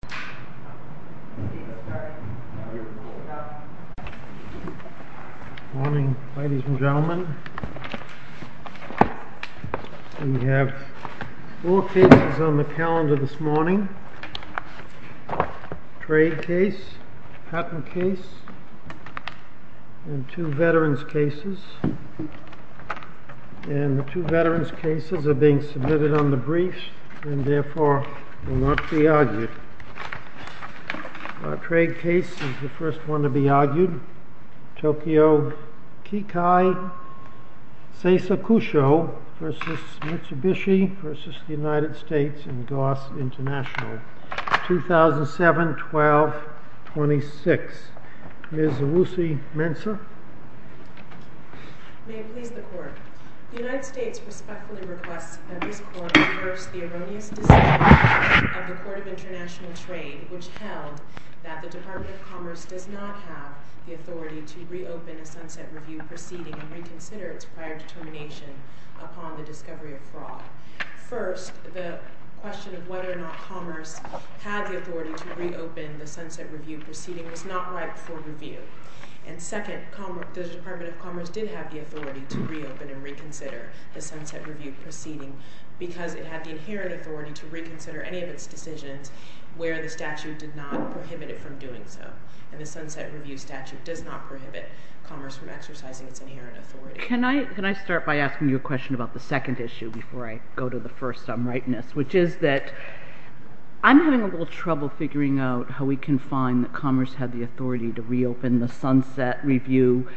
Good morning, ladies and gentlemen. We have four cases on the calendar this morning. Trade case, patent case, and two veterans cases. And the two veterans cases are being submitted on the briefs and therefore will not be argued. Our trade case is the first one to be argued. Tokyo Kikai Seisakusho v. Mitsubishi v. United States and Goss International, 2007-12-26. Ms. Lucy Mensah. May it please the Court. The United States respectfully requests that this Court reverse the erroneous decision of the Court of International Trade which held that the Department of Commerce does not have the authority to reopen the Sunset Review proceeding and reconsider its prior determination upon the discovery of fraud. First, the question of whether or not Commerce had the authority to reopen the Sunset Review proceeding was not right for review. And second, the Department of Commerce did have the authority to reopen and reconsider the Sunset Review proceeding because it had the inherent authority to reconsider any of its decisions where the statute did not prohibit it from doing so. And the Sunset Review statute does not prohibit Commerce from exercising its inherent authority. Can I start by asking you a question about the second issue before I go to the first some rightness, which is that I'm having a little trouble figuring out how we can find that Commerce had the authority to reopen the Sunset Review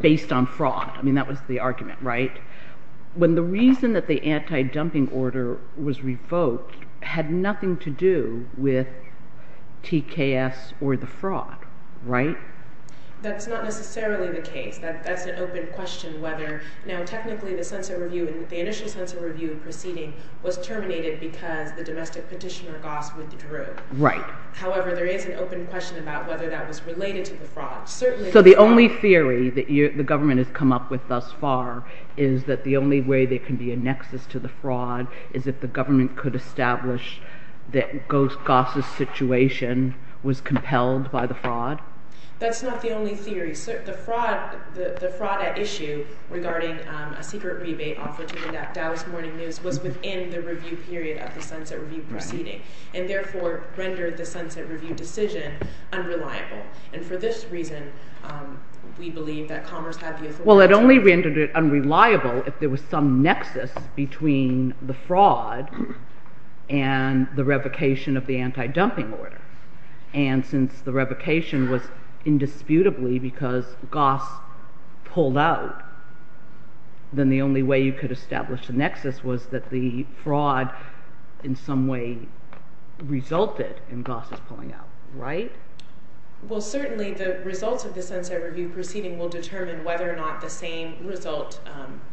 based on fraud. I mean, that was the argument, right? When the reason that the anti-dumping order was revoked had nothing to do with TKS or the fraud, right? That's not necessarily the case. That's an open question whether now technically the Sunset Review and the initial Sunset Review proceeding was terminated because the domestic petitioner, Goss, withdrew. Right. However, there is an open question about whether that was related to the fraud. So the only theory that the government has come up with thus far is that the only way there can be a nexus to the fraud is if the government could establish that Goss' situation was compelled by the fraud? That's not the only theory. The fraud at issue regarding a secret rebate offered to the Dow's Morning News was within the review period of the Sunset Review proceeding and therefore rendered the Sunset Review decision unreliable. And for this reason, we believe that Commerce had the authority to- Well, it only rendered it unreliable if there was some nexus between the fraud and the revocation of the anti-dumping order. And since the revocation was indisputably because Goss pulled out, then the only way you could establish the nexus was that the fraud in some way resulted in Goss' pulling out. Right? Well, certainly the results of the Sunset Review proceeding will determine whether or not the same result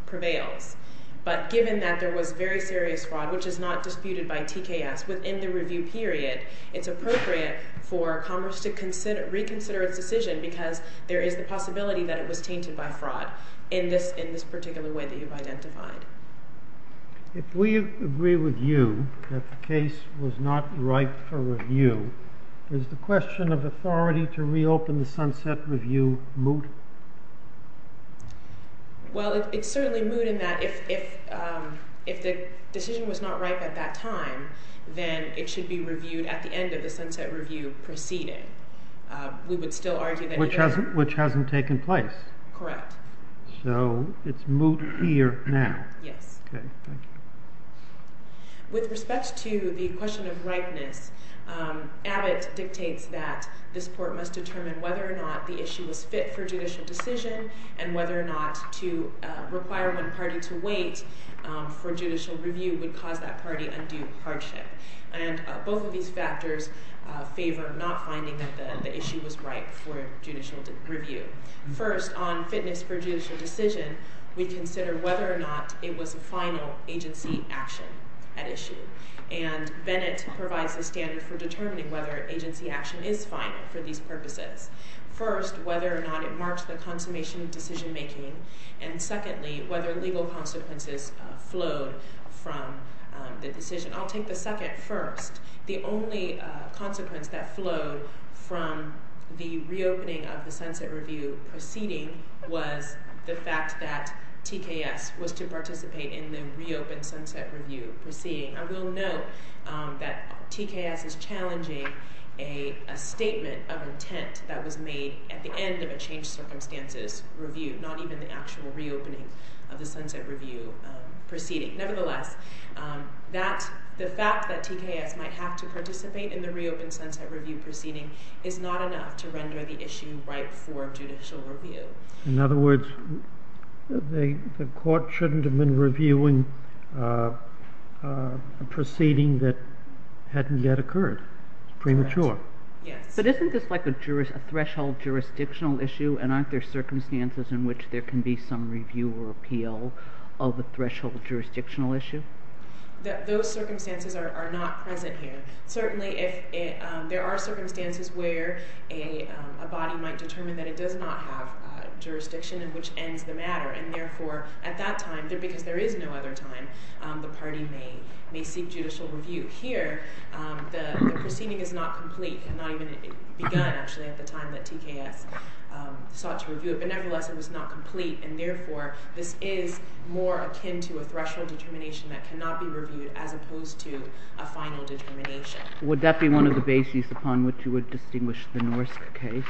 prevails. But given that there was very serious fraud, which is not disputed by TKS, within the review period, it's appropriate for Commerce to reconsider its decision because there is the possibility that it was tainted by fraud in this particular way that you've identified. If we agree with you that the case was not ripe for review, does the question of authority to reopen the Sunset Review moot? Well, it's certainly moot in that if the decision was not ripe at that time, then it should be reviewed at the end of the Sunset Review proceeding. We would still argue that- Which hasn't taken place. Correct. So it's moot here now. Yes. Okay. Thank you. With respect to the question of ripeness, Abbott dictates that this court must determine whether or not the issue was fit for judicial decision and whether or not to require one party to wait for judicial review would cause that party undue hardship. And both of these factors favor not finding that the issue was ripe for judicial review. First, on fitness for judicial decision, we consider whether or not it was a final agency action at issue. And Bennett provides the standard for determining whether agency action is final for these purposes. First, whether or not it marks the consummation of decision-making. And secondly, whether legal consequences flowed from the decision. I'll take the second first. The only consequence that flowed from the reopening of the Sunset Review proceeding was the fact that TKS was to participate in the reopened Sunset Review proceeding. I will note that TKS is challenging a statement of intent that was made at the end of a changed circumstances review, not even the actual reopening of the Sunset Review proceeding. Nevertheless, the fact that TKS might have to participate in the reopened Sunset Review proceeding is not enough to render the issue ripe for judicial review. In other words, the court shouldn't have been reviewing a proceeding that hadn't yet occurred. It's premature. Yes. But isn't this like a threshold jurisdictional issue? And aren't there circumstances in which there can be some review or appeal of a threshold jurisdictional issue? Those circumstances are not present here. Certainly, there are circumstances where a body might determine that it does not have jurisdiction and which ends the matter. And therefore, at that time, because there is no other time, the party may seek judicial review. Here, the proceeding is not complete. It had not even begun, actually, at the time that TKS sought to review it. But nevertheless, it was not complete. And therefore, this is more akin to a threshold determination that cannot be reviewed as opposed to a final determination. Would that be one of the bases upon which you would distinguish the Norsk case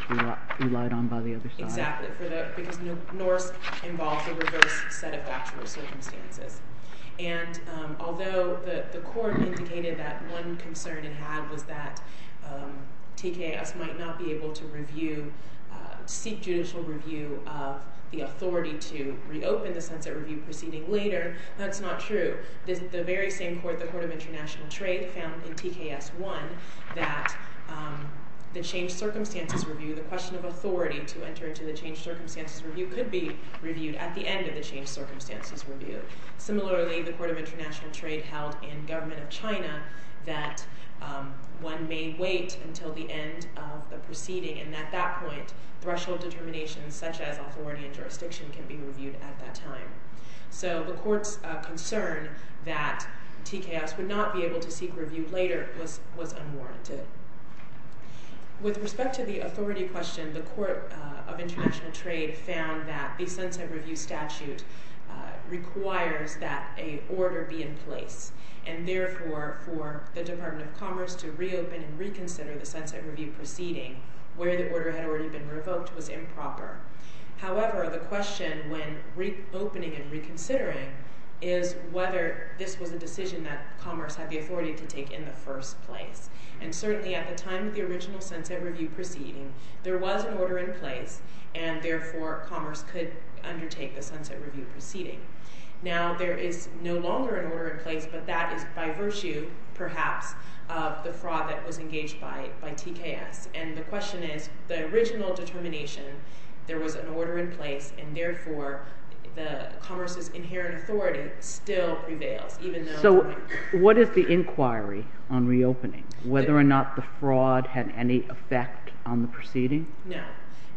relied on by the other side? Exactly, because Norsk involves a reverse set of actual circumstances. And although the court indicated that one concern it had was that TKS might not be able to review, seek judicial review of the authority to reopen the Sunset Review proceeding later, that's not true. The very same court, the Court of International Trade, found in TKS 1 that the changed circumstances review, the question of authority to enter into the changed circumstances review, could be reviewed at the end of the changed circumstances review. Similarly, the Court of International Trade held in government of China that one may wait until the end of the proceeding and at that point, threshold determinations such as authority and jurisdiction can be reviewed at that time. So the court's concern that TKS would not be able to seek review later was unwarranted. With respect to the authority question, the Court of International Trade found that the Sunset Review statute requires that a order be in place. And therefore, for the Department of Commerce to reopen and reconsider the Sunset Review proceeding, where the order had already been revoked, was improper. However, the question when reopening and reconsidering is whether this was a decision that Commerce had the authority to take in the first place. And certainly at the time of the original Sunset Review proceeding, there was an order in place, and therefore Commerce could undertake the Sunset Review proceeding. Now, there is no longer an order in place, but that is by virtue, perhaps, of the fraud that was engaged by TKS. And the question is, the original determination, there was an order in place, and therefore Commerce's inherent authority still prevails. So what is the inquiry on reopening? Whether or not the fraud had any effect on the proceeding? No.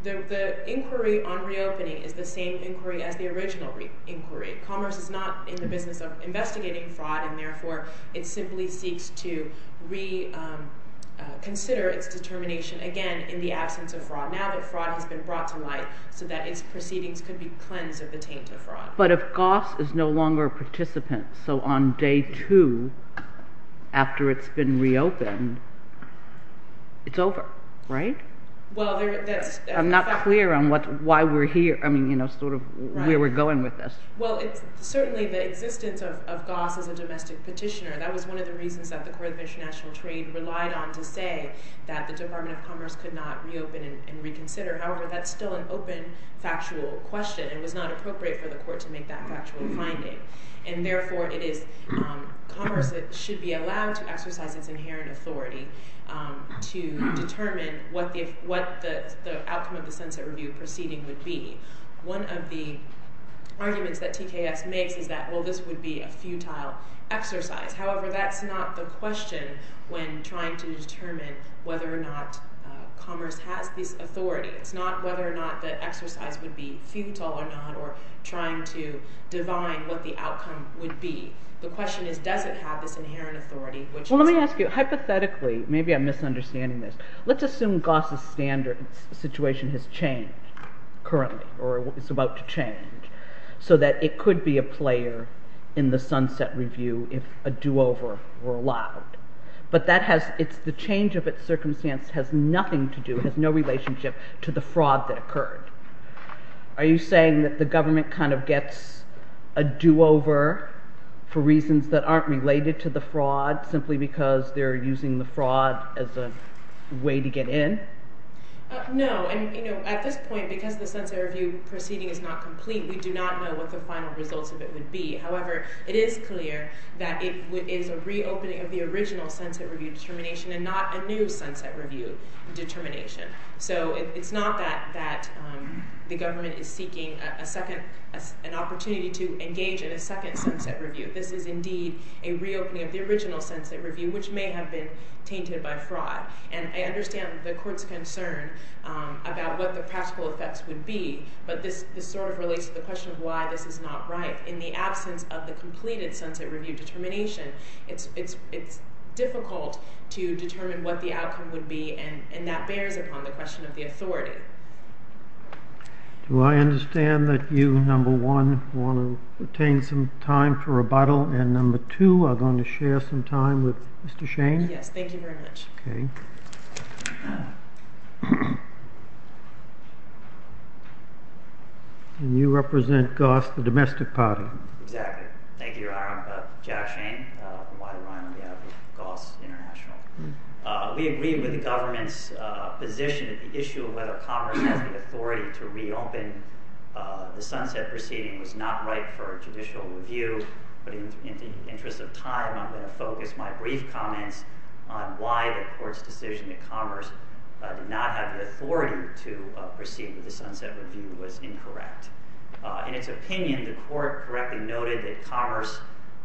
The inquiry on reopening is the same inquiry as the original inquiry. Commerce is not in the business of investigating fraud, and therefore it simply seeks to reconsider its determination, again, in the absence of fraud. Now that fraud has been brought to light, so that its proceedings could be cleansed of the taint of fraud. But if Goss is no longer a participant, so on day two, after it's been reopened, it's over, right? I'm not clear on why we're here, I mean, sort of where we're going with this. Well, certainly the existence of Goss as a domestic petitioner, that was one of the reasons that the Court of International Trade relied on to say that the Department of Commerce could not reopen and reconsider. However, that's still an open, factual question, and it was not appropriate for the Court to make that factual finding. And therefore, Commerce should be allowed to exercise its inherent authority to determine what the outcome of the Sunset Review proceeding would be. One of the arguments that TKS makes is that, well, this would be a futile exercise. However, that's not the question when trying to determine whether or not Commerce has this authority. It's not whether or not the exercise would be futile or not, or trying to divine what the outcome would be. The question is, does it have this inherent authority? Well, let me ask you, hypothetically, maybe I'm misunderstanding this. Let's assume Goss' situation has changed, currently, or is about to change, so that it could be a player in the Sunset Review if a do-over were allowed. But the change of its circumstance has nothing to do, has no relationship, to the fraud that occurred. Are you saying that the government kind of gets a do-over for reasons that aren't related to the fraud, simply because they're using the fraud as a way to get in? No. At this point, because the Sunset Review proceeding is not complete, we do not know what the final results of it would be. However, it is clear that it is a reopening of the original Sunset Review determination and not a new Sunset Review determination. So it's not that the government is seeking an opportunity to engage in a second Sunset Review. This is indeed a reopening of the original Sunset Review, which may have been tainted by fraud. And I understand the Court's concern about what the practical effects would be, but this sort of relates to the question of why this is not right. In the absence of the completed Sunset Review determination, it's difficult to determine what the outcome would be, and that bears upon the question of the authority. Do I understand that you, number one, want to obtain some time for rebuttal, and number two, are going to share some time with Mr. Shane? Yes, thank you very much. Okay. And you represent Goss, the domestic party. Exactly. Thank you, Your Honor. I'm Jack Shane, a wide-armer on behalf of Goss International. We agree with the government's position on the issue of whether Congress has the authority to reopen the Sunset Proceeding. It was not right for a judicial review, but in the interest of time, I'm going to focus my brief comments on why the Court's decision that Congress did not have the authority to proceed with the Sunset Review was incorrect. In its opinion, the Court correctly noted that Congress,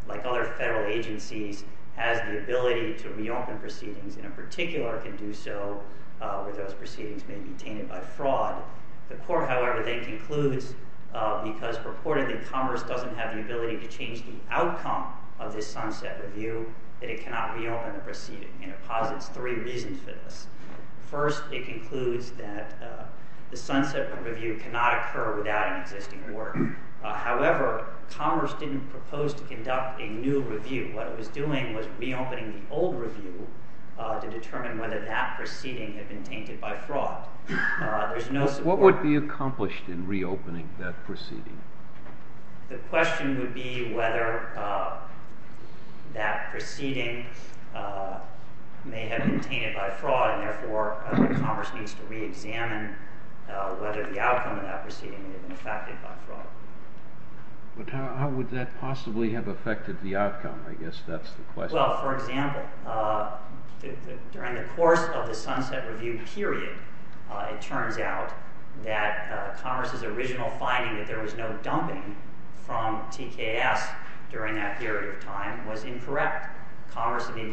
like other federal agencies, has the ability to reopen proceedings, and in particular can do so where those proceedings may be tainted by fraud. The Court, however, then concludes, because purportedly Congress doesn't have the ability to change the outcome of this Sunset Review, that it cannot reopen the proceeding, and it posits three reasons for this. First, it concludes that the Sunset Review cannot occur without an existing order. However, Congress didn't propose to conduct a new review. What it was doing was reopening the old review to determine whether that proceeding had been tainted by fraud. What would be accomplished in reopening that proceeding? The question would be whether that proceeding may have been tainted by fraud, and therefore Congress needs to reexamine whether the outcome of that proceeding may have been affected by fraud. But how would that possibly have affected the outcome? I guess that's the question. Well, for example, during the course of the Sunset Review period, it turns out that Congress's original finding that there was no dumping from TKS during that period of time was incorrect. Congress, in the new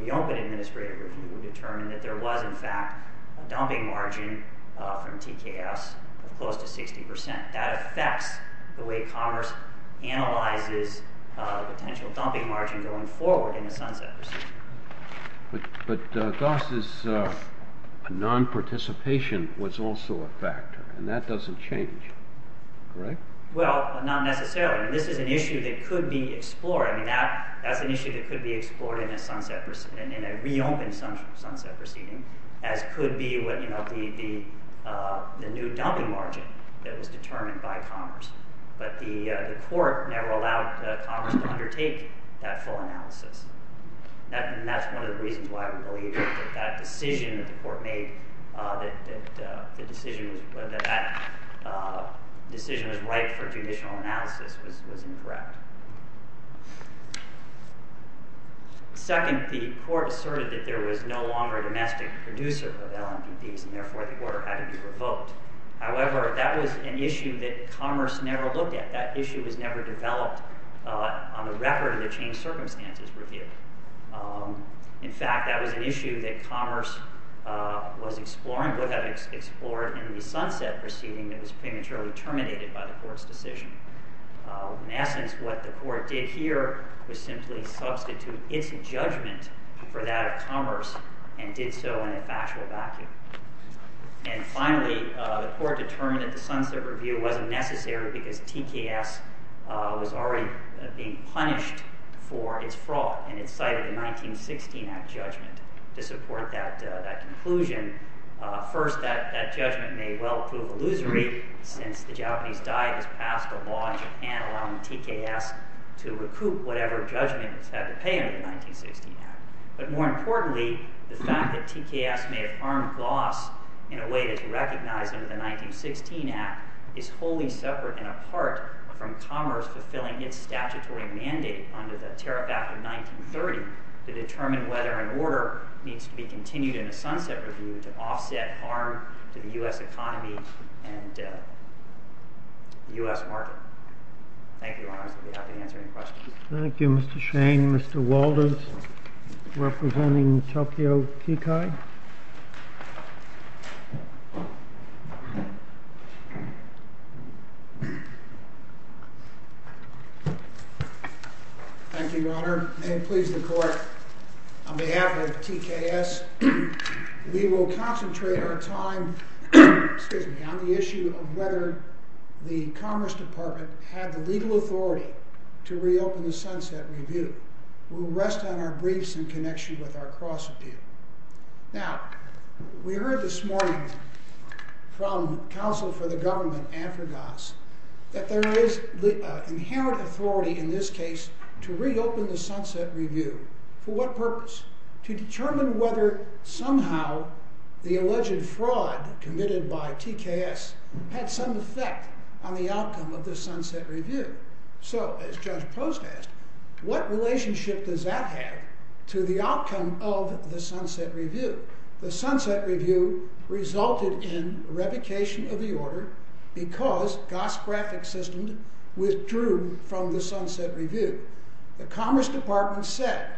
reopened Administrative Review, determined that there was, in fact, a dumping margin from TKS of close to 60%. That affects the way Congress analyzes the potential dumping margin going forward in the Sunset Procedure. But Goss's nonparticipation was also a factor, and that doesn't change, correct? Well, not necessarily. This is an issue that could be explored. That's an issue that could be explored in a reopened Sunset Proceeding, as could be the new dumping margin that was determined by Congress. But the court never allowed Congress to undertake that full analysis. And that's one of the reasons why we believe that that decision that the court made, that that decision was right for judicial analysis, was incorrect. Second, the court asserted that there was no longer a domestic producer of LMPPs, and therefore the order had to be revoked. However, that was an issue that Congress never looked at. That issue was never developed on the record of the Changed Circumstances Review. In fact, that was an issue that Congress was exploring, would have explored, in the Sunset Proceeding that was prematurely terminated by the court's decision. In essence, what the court did here was simply substitute its judgment for that of Congress, and did so in a factual vacuum. And finally, the court determined that the Sunset Review wasn't necessary because TKS was already being punished for its fraud. And it cited the 1916 Act judgment to support that conclusion. First, that judgment may well prove illusory, since the Japanese died as passed a law in Japan allowing TKS to recoup whatever judgment it's had to pay under the 1916 Act. But more importantly, the fact that TKS may have armed loss in a way that's recognized under the 1916 Act is wholly separate and apart from Congress fulfilling its statutory mandate under the Tariff Act of 1930 to determine whether an order needs to be continued in a Sunset Review to offset harm to the US economy and the US market. Thank you, Your Honors. I'll be happy to answer any questions. Thank you, Mr. Shane. Mr. Walters, representing Tokyo Kikai. Thank you, Your Honor. May it please the Court, on behalf of TKS, we will concentrate our time on the issue of whether the Commerce Department had the legal authority to reopen the Sunset Review. We'll rest on our briefs in connection with our cross-review. Now, we heard this morning from counsel for the government, Andrew Goss, that there is inherent authority in this case to reopen the Sunset Review. For what purpose? To determine whether somehow the alleged fraud committed by TKS had some effect on the outcome of the Sunset Review. So, as Judge Post asked, what relationship does that have to the outcome of the Sunset Review? The Sunset Review resulted in revocation of the order because Goss' graphic system withdrew from the Sunset Review. The Commerce Department said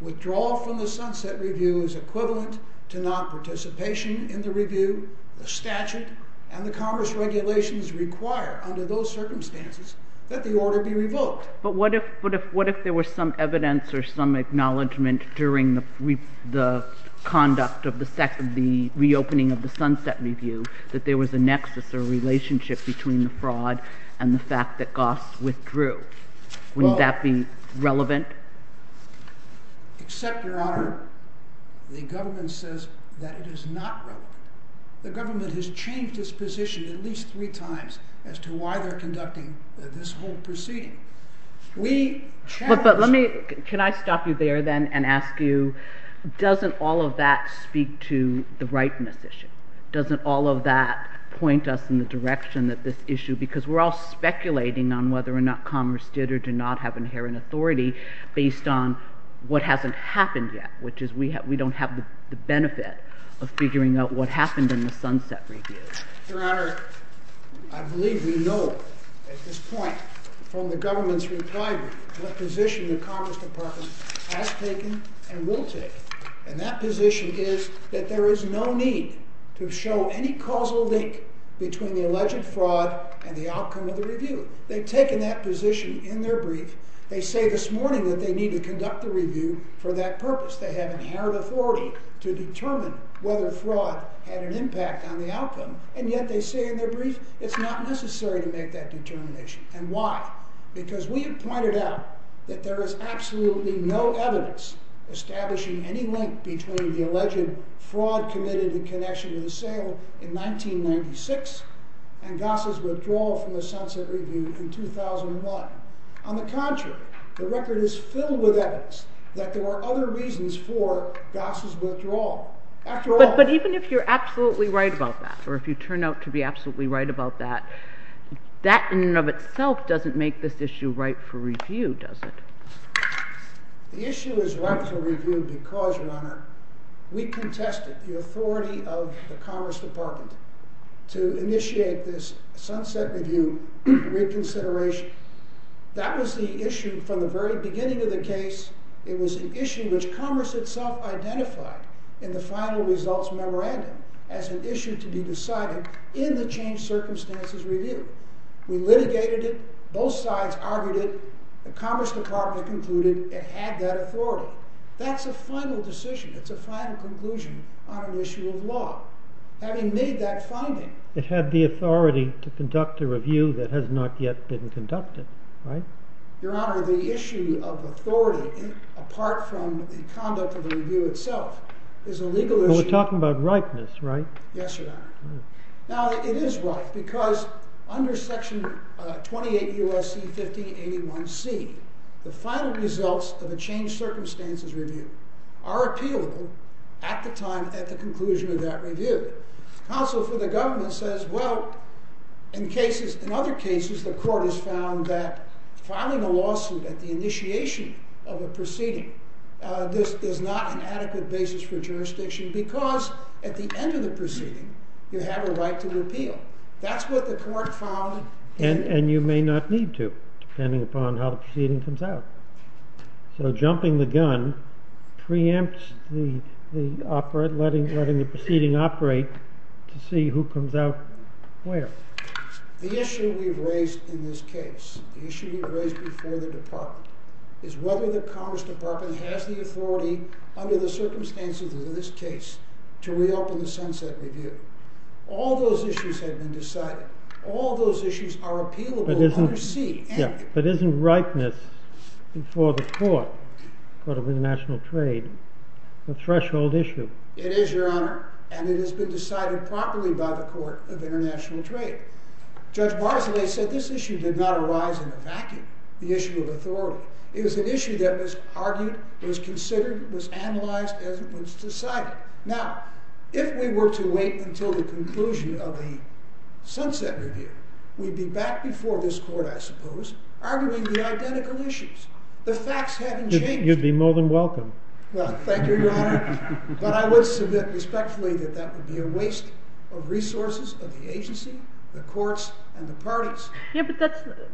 withdrawal from the Sunset Review is equivalent to non-participation in the review. The statute and the Commerce regulations require, under those circumstances, that the order be revoked. But what if there was some evidence or some acknowledgment during the conduct of the reopening of the Sunset Review that there was a nexus or relationship between the fraud and the fact that Goss withdrew? Wouldn't that be relevant? Except, Your Honor, the government says that it is not relevant. The government has changed its position at least three times as to why they're conducting this whole proceeding. Can I stop you there then and ask you, doesn't all of that speak to the rightness issue? Doesn't all of that point us in the direction of this issue? Because we're all speculating on whether or not Commerce did or did not have inherent authority based on what hasn't happened yet. Which is we don't have the benefit of figuring out what happened in the Sunset Review. Your Honor, I believe we know at this point from the government's retirement what position the Commerce Department has taken and will take. And that position is that there is no need to show any causal link between the alleged fraud and the outcome of the review. They've taken that position in their brief. They say this morning that they need to conduct the review for that purpose. They have inherent authority to determine whether fraud had an impact on the outcome. And yet they say in their brief it's not necessary to make that determination. And why? Because we have pointed out that there is absolutely no evidence establishing any link between the alleged fraud committed in connection with the sale in 1996 and Goss's withdrawal from the Sunset Review in 2001. On the contrary, the record is filled with evidence that there were other reasons for Goss's withdrawal. But even if you're absolutely right about that, or if you turn out to be absolutely right about that, that in and of itself doesn't make this issue ripe for review, does it? The issue is ripe for review because, Your Honor, we contested the authority of the Commerce Department to initiate this Sunset Review reconsideration. That was the issue from the very beginning of the case. It was an issue which Commerce itself identified in the final results memorandum as an issue to be decided in the changed circumstances review. We litigated it. Both sides argued it. The Commerce Department concluded it had that authority. That's a final decision. It's a final conclusion on an issue of law. Having made that finding. It had the authority to conduct a review that has not yet been conducted, right? Your Honor, the issue of authority, apart from the conduct of the review itself, is a legal issue. We're talking about ripeness, right? Yes, Your Honor. Now, it is ripe because under Section 28 U.S.C. 1581C, the final results of a changed circumstances review are appealable at the time at the conclusion of that review. Counsel for the government says, well, in other cases, the court has found that filing a lawsuit at the initiation of a proceeding, this is not an adequate basis for jurisdiction because at the end of the proceeding, you have a right to repeal. That's what the court found. And you may not need to, depending upon how the proceeding comes out. So jumping the gun preempts letting the proceeding operate to see who comes out where. The issue we've raised in this case, the issue we've raised before the department, is whether the Congress department has the authority under the circumstances of this case to reopen the sunset review. All those issues have been decided. All those issues are appealable under C. But isn't ripeness before the court, the court of international trade, a threshold issue? It is, Your Honor. And it has been decided properly by the court of international trade. Judge Barzilay said this issue did not arise in a vacuum, the issue of authority. It was an issue that was argued, was considered, was analyzed, and was decided. Now, if we were to wait until the conclusion of the sunset review, we'd be back before this court, I suppose, arguing the identical issues. The facts haven't changed. You'd be more than welcome. Well, thank you, Your Honor. But I would submit respectfully that that would be a waste of resources of the agency, the courts, and the parties. Yeah, but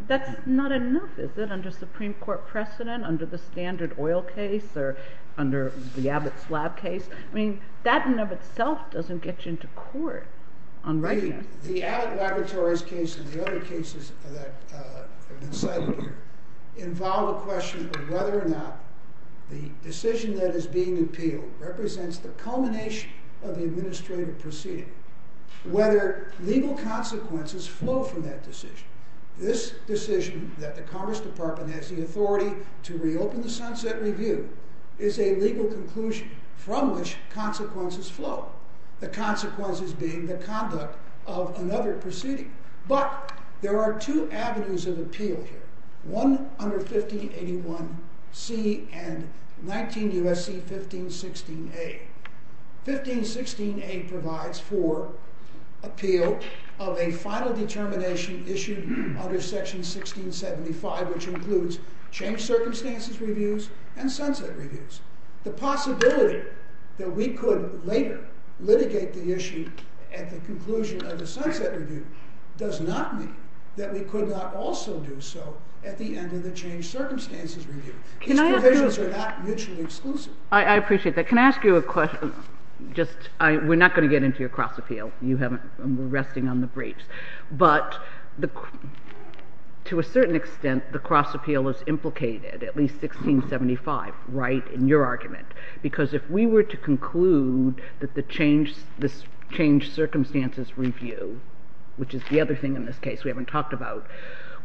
that's not enough, is it, under Supreme Court precedent, under the standard oil case, or under the Abbott's lab case? I mean, that in and of itself doesn't get you into court on ripeness. The Abbott Laboratories case and the other cases that have been cited here involve a question of whether or not the decision that is being appealed represents the culmination of the administrative proceeding, whether legal consequences flow from that decision. This decision that the Congress Department has the authority to reopen the sunset review is a legal conclusion from which consequences flow, the consequences being the conduct of another proceeding. But there are two avenues of appeal here, one under 1581C and 19 U.S.C. 1516A. 1516A provides for appeal of a final determination issued under Section 1675, which includes changed circumstances reviews and sunset reviews. The possibility that we could later litigate the issue at the conclusion of the sunset review does not mean that we could not also do so at the end of the changed circumstances review. These provisions are not mutually exclusive. I appreciate that. But can I ask you a question? We're not going to get into your cross appeal. You haven't. We're resting on the briefs. But to a certain extent, the cross appeal is implicated, at least 1675, right, in your argument. Because if we were to conclude that this changed circumstances review, which is the other thing in this case we haven't talked about,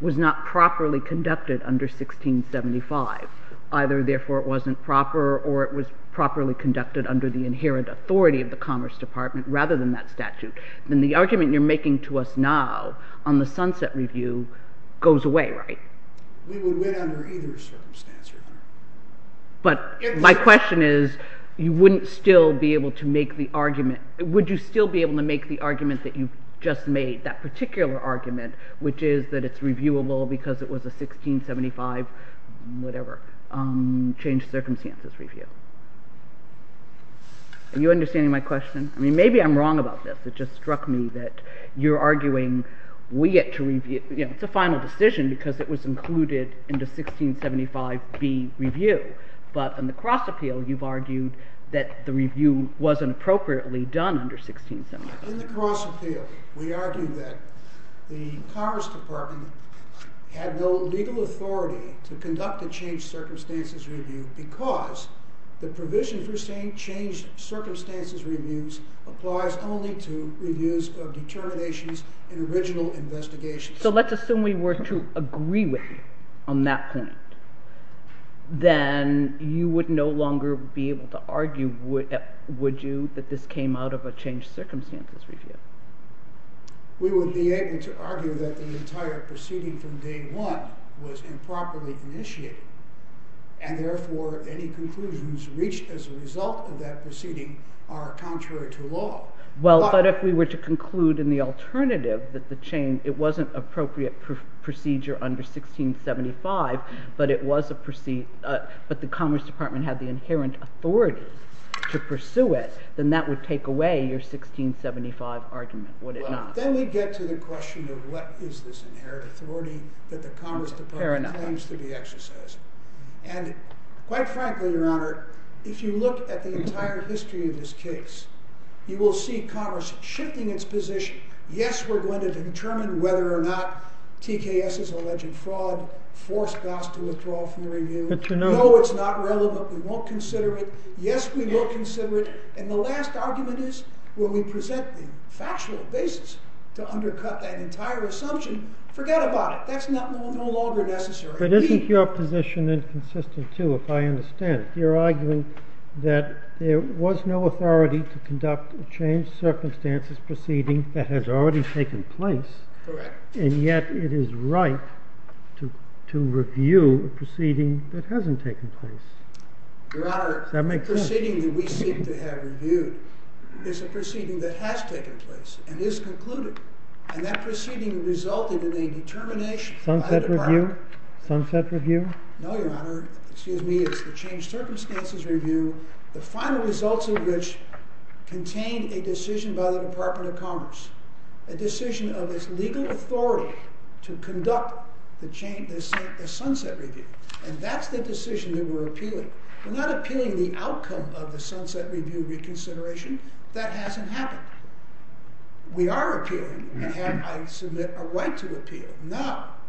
was not properly conducted under 1675, either therefore it wasn't proper or it was properly conducted under the inherent authority of the Commerce Department rather than that statute, then the argument you're making to us now on the sunset review goes away, right? We would win under either circumstance, Your Honor. But my question is, you wouldn't still be able to make the argument – would you still be able to make the argument that you've just made, that particular argument, which is that it's reviewable because it was a 1675, whatever, changed circumstances review? Are you understanding my question? I mean, maybe I'm wrong about this. It just struck me that you're arguing we get to review – it's a final decision because it was included in the 1675B review. But in the cross appeal, you've argued that the review wasn't appropriately done under 1675. In the cross appeal, we argue that the Commerce Department had no legal authority to conduct a changed circumstances review because the provision for saying changed circumstances reviews applies only to reviews of determinations in original investigations. So let's assume we were to agree with you on that point. Then you would no longer be able to argue, would you, that this came out of a changed circumstances review. We would be able to argue that the entire proceeding from day one was improperly initiated, and therefore any conclusions reached as a result of that proceeding are contrary to law. But if we were to conclude in the alternative that it wasn't an appropriate procedure under 1675, but the Commerce Department had the inherent authority to pursue it, then that would take away your 1675 argument, would it not? Then we get to the question of what is this inherent authority that the Commerce Department claims to be exercising. And quite frankly, Your Honor, if you look at the entire history of this case, you will see Congress shifting its position. Yes, we're going to determine whether or not TKS is alleged fraud, force Goss to withdraw from the review. No, it's not relevant. We won't consider it. Yes, we will consider it. And the last argument is when we present the factual basis to undercut that entire assumption, forget about it. That's no longer necessary. But isn't your position inconsistent, too, if I understand it? You're arguing that there was no authority to conduct a changed circumstances proceeding that has already taken place. Correct. And yet it is right to review a proceeding that hasn't taken place. Your Honor, the proceeding that we seem to have reviewed is a proceeding that has taken place and is concluded. And that proceeding resulted in a determination by the Department. Sunset Review? Sunset Review? No, Your Honor. Excuse me. It's the Changed Circumstances Review, the final results of which contained a decision by the Department of Commerce, a decision of its legal authority to conduct the Sunset Review. And that's the decision that we're appealing. We're not appealing the outcome of the Sunset Review reconsideration. That hasn't happened. We are appealing, and I submit a right to appeal, not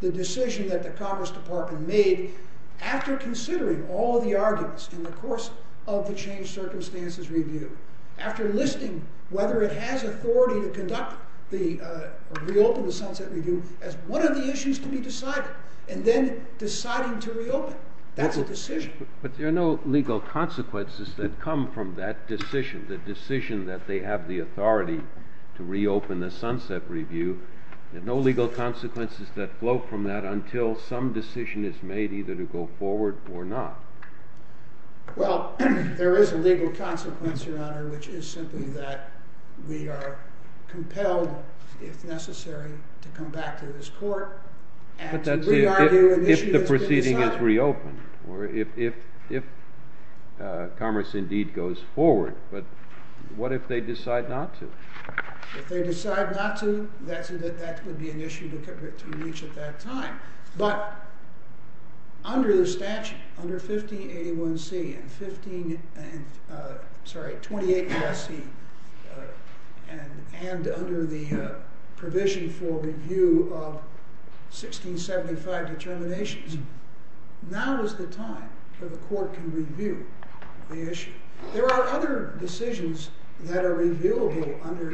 the decision that the Commerce Department made after considering all the arguments in the course of the Changed Circumstances Review, after listing whether it has authority to conduct or reopen the Sunset Review as one of the issues to be decided, and then deciding to reopen. That's a decision. But there are no legal consequences that come from that decision, the decision that they have the authority to reopen the Sunset Review. There are no legal consequences that flow from that until some decision is made either to go forward or not. Well, there is a legal consequence, Your Honor, which is simply that we are compelled, if necessary, to come back to this court and to re-argue an issue that's been decided. Or if Commerce indeed goes forward. But what if they decide not to? If they decide not to, that would be an issue to reach at that time. But under the statute, under 1581C and 15, sorry, 28 USC, and under the provision for review of 1675 determinations, now is the time for the court to review the issue. There are other decisions that are reviewable under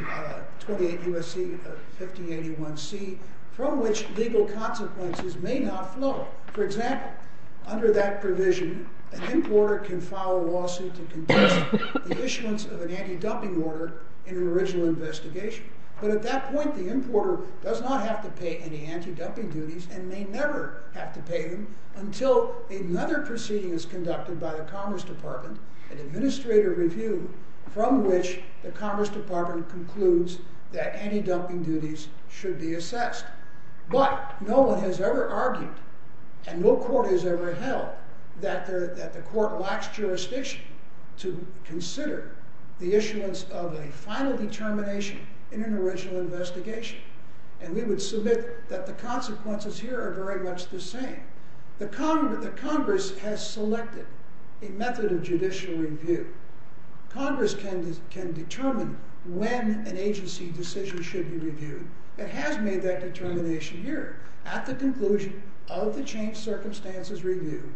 28 USC of 1581C from which legal consequences may not flow. For example, under that provision, an importer can file a lawsuit to contest the issuance of an anti-dumping order in an original investigation. But at that point, the importer does not have to pay any anti-dumping duties and may never have to pay them until another proceeding is conducted by the Commerce Department, an administrator review, from which the Commerce Department concludes that anti-dumping duties should be assessed. But no one has ever argued, and no court has ever held, that the court lacks jurisdiction to consider the issuance of a final determination in an original investigation. And we would submit that the consequences here are very much the same. The Congress has selected a method of judicial review. Congress can determine when an agency decision should be reviewed. It has made that determination here. At the conclusion of the changed circumstances review,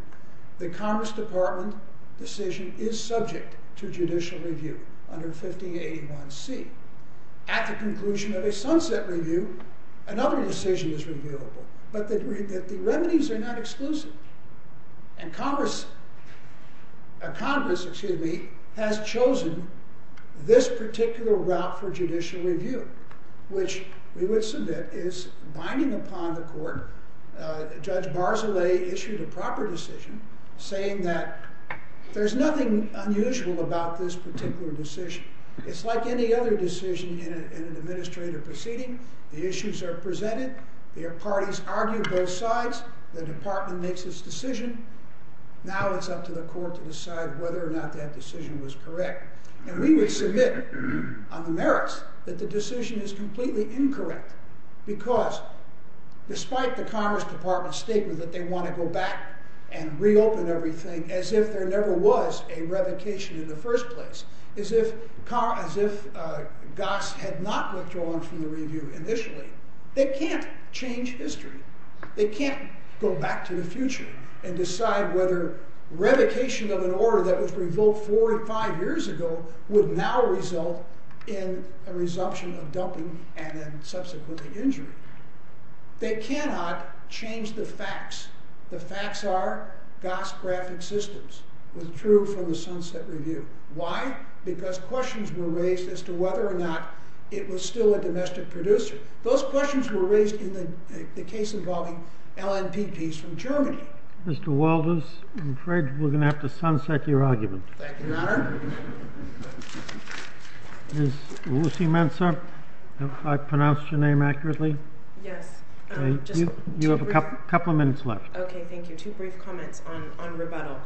the Commerce Department decision is subject to judicial review under 1581C. At the conclusion of a sunset review, another decision is reviewable. But the remedies are not exclusive. And Congress has chosen this particular route for judicial review, which we would submit is binding upon the court. Judge Barzilay issued a proper decision saying that there's nothing unusual about this particular decision. It's like any other decision in an administrator proceeding. The issues are presented. The parties argue both sides. The department makes its decision. Now it's up to the court to decide whether or not that decision was correct. And we would submit on the merits that the decision is completely incorrect because despite the Commerce Department's statement that they want to go back and reopen everything as if there never was a revocation in the first place, as if Goss had not withdrawn from the review initially, they can't change history. They can't go back to the future and decide whether revocation of an order that was revoked four or five years ago would now result in a resumption of dumping and then subsequently injury. They cannot change the facts. The facts are Goss graphic systems was true from the sunset review. Why? Because questions were raised as to whether or not it was still a domestic producer. Those questions were raised in the case involving LNPPs from Germany. Mr. Walters, I'm afraid we're going to have to sunset your argument. Thank you, Your Honor. Ms. Lucy Mensah, have I pronounced your name accurately? Yes. You have a couple of minutes left. Okay, thank you. Two brief comments on rebuttal.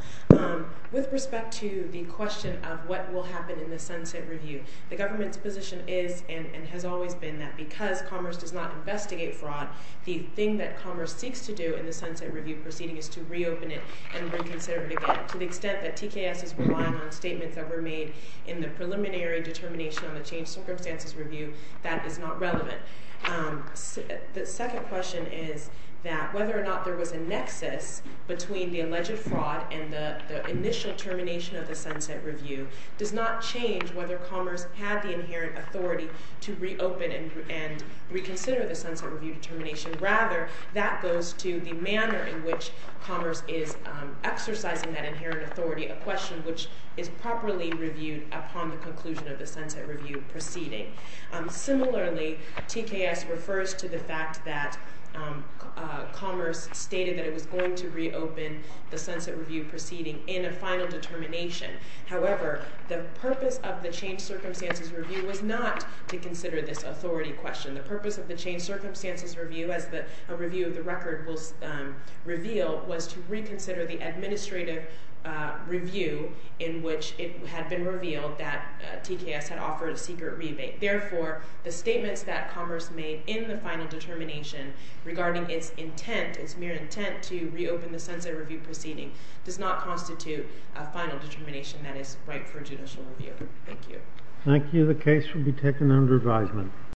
With respect to the question of what will happen in the sunset review, the government's position is and has always been that because Commerce does not investigate fraud, the thing that Commerce seeks to do in the sunset review proceeding is to reopen it and reconsider it again. To the extent that TKS is relying on statements that were made in the preliminary determination on the changed circumstances review, that is not relevant. The second question is that whether or not there was a nexus between the alleged fraud and the initial termination of the sunset review does not change whether Commerce had the inherent authority to reopen and reconsider the sunset review determination. Rather, that goes to the manner in which Commerce is exercising that inherent authority, a question which is properly reviewed upon the conclusion of the sunset review proceeding. Similarly, TKS refers to the fact that Commerce stated that it was going to reopen the sunset review proceeding in a final determination. However, the purpose of the changed circumstances review was not to consider this authority question. The purpose of the changed circumstances review, as a review of the record will reveal, was to reconsider the administrative review in which it had been revealed that TKS had offered a secret rebate. Therefore, the statements that Commerce made in the final determination regarding its intent, its mere intent to reopen the sunset review proceeding, does not constitute a final determination that is ripe for judicial review. Thank you. Thank you. The case will be taken under advisement.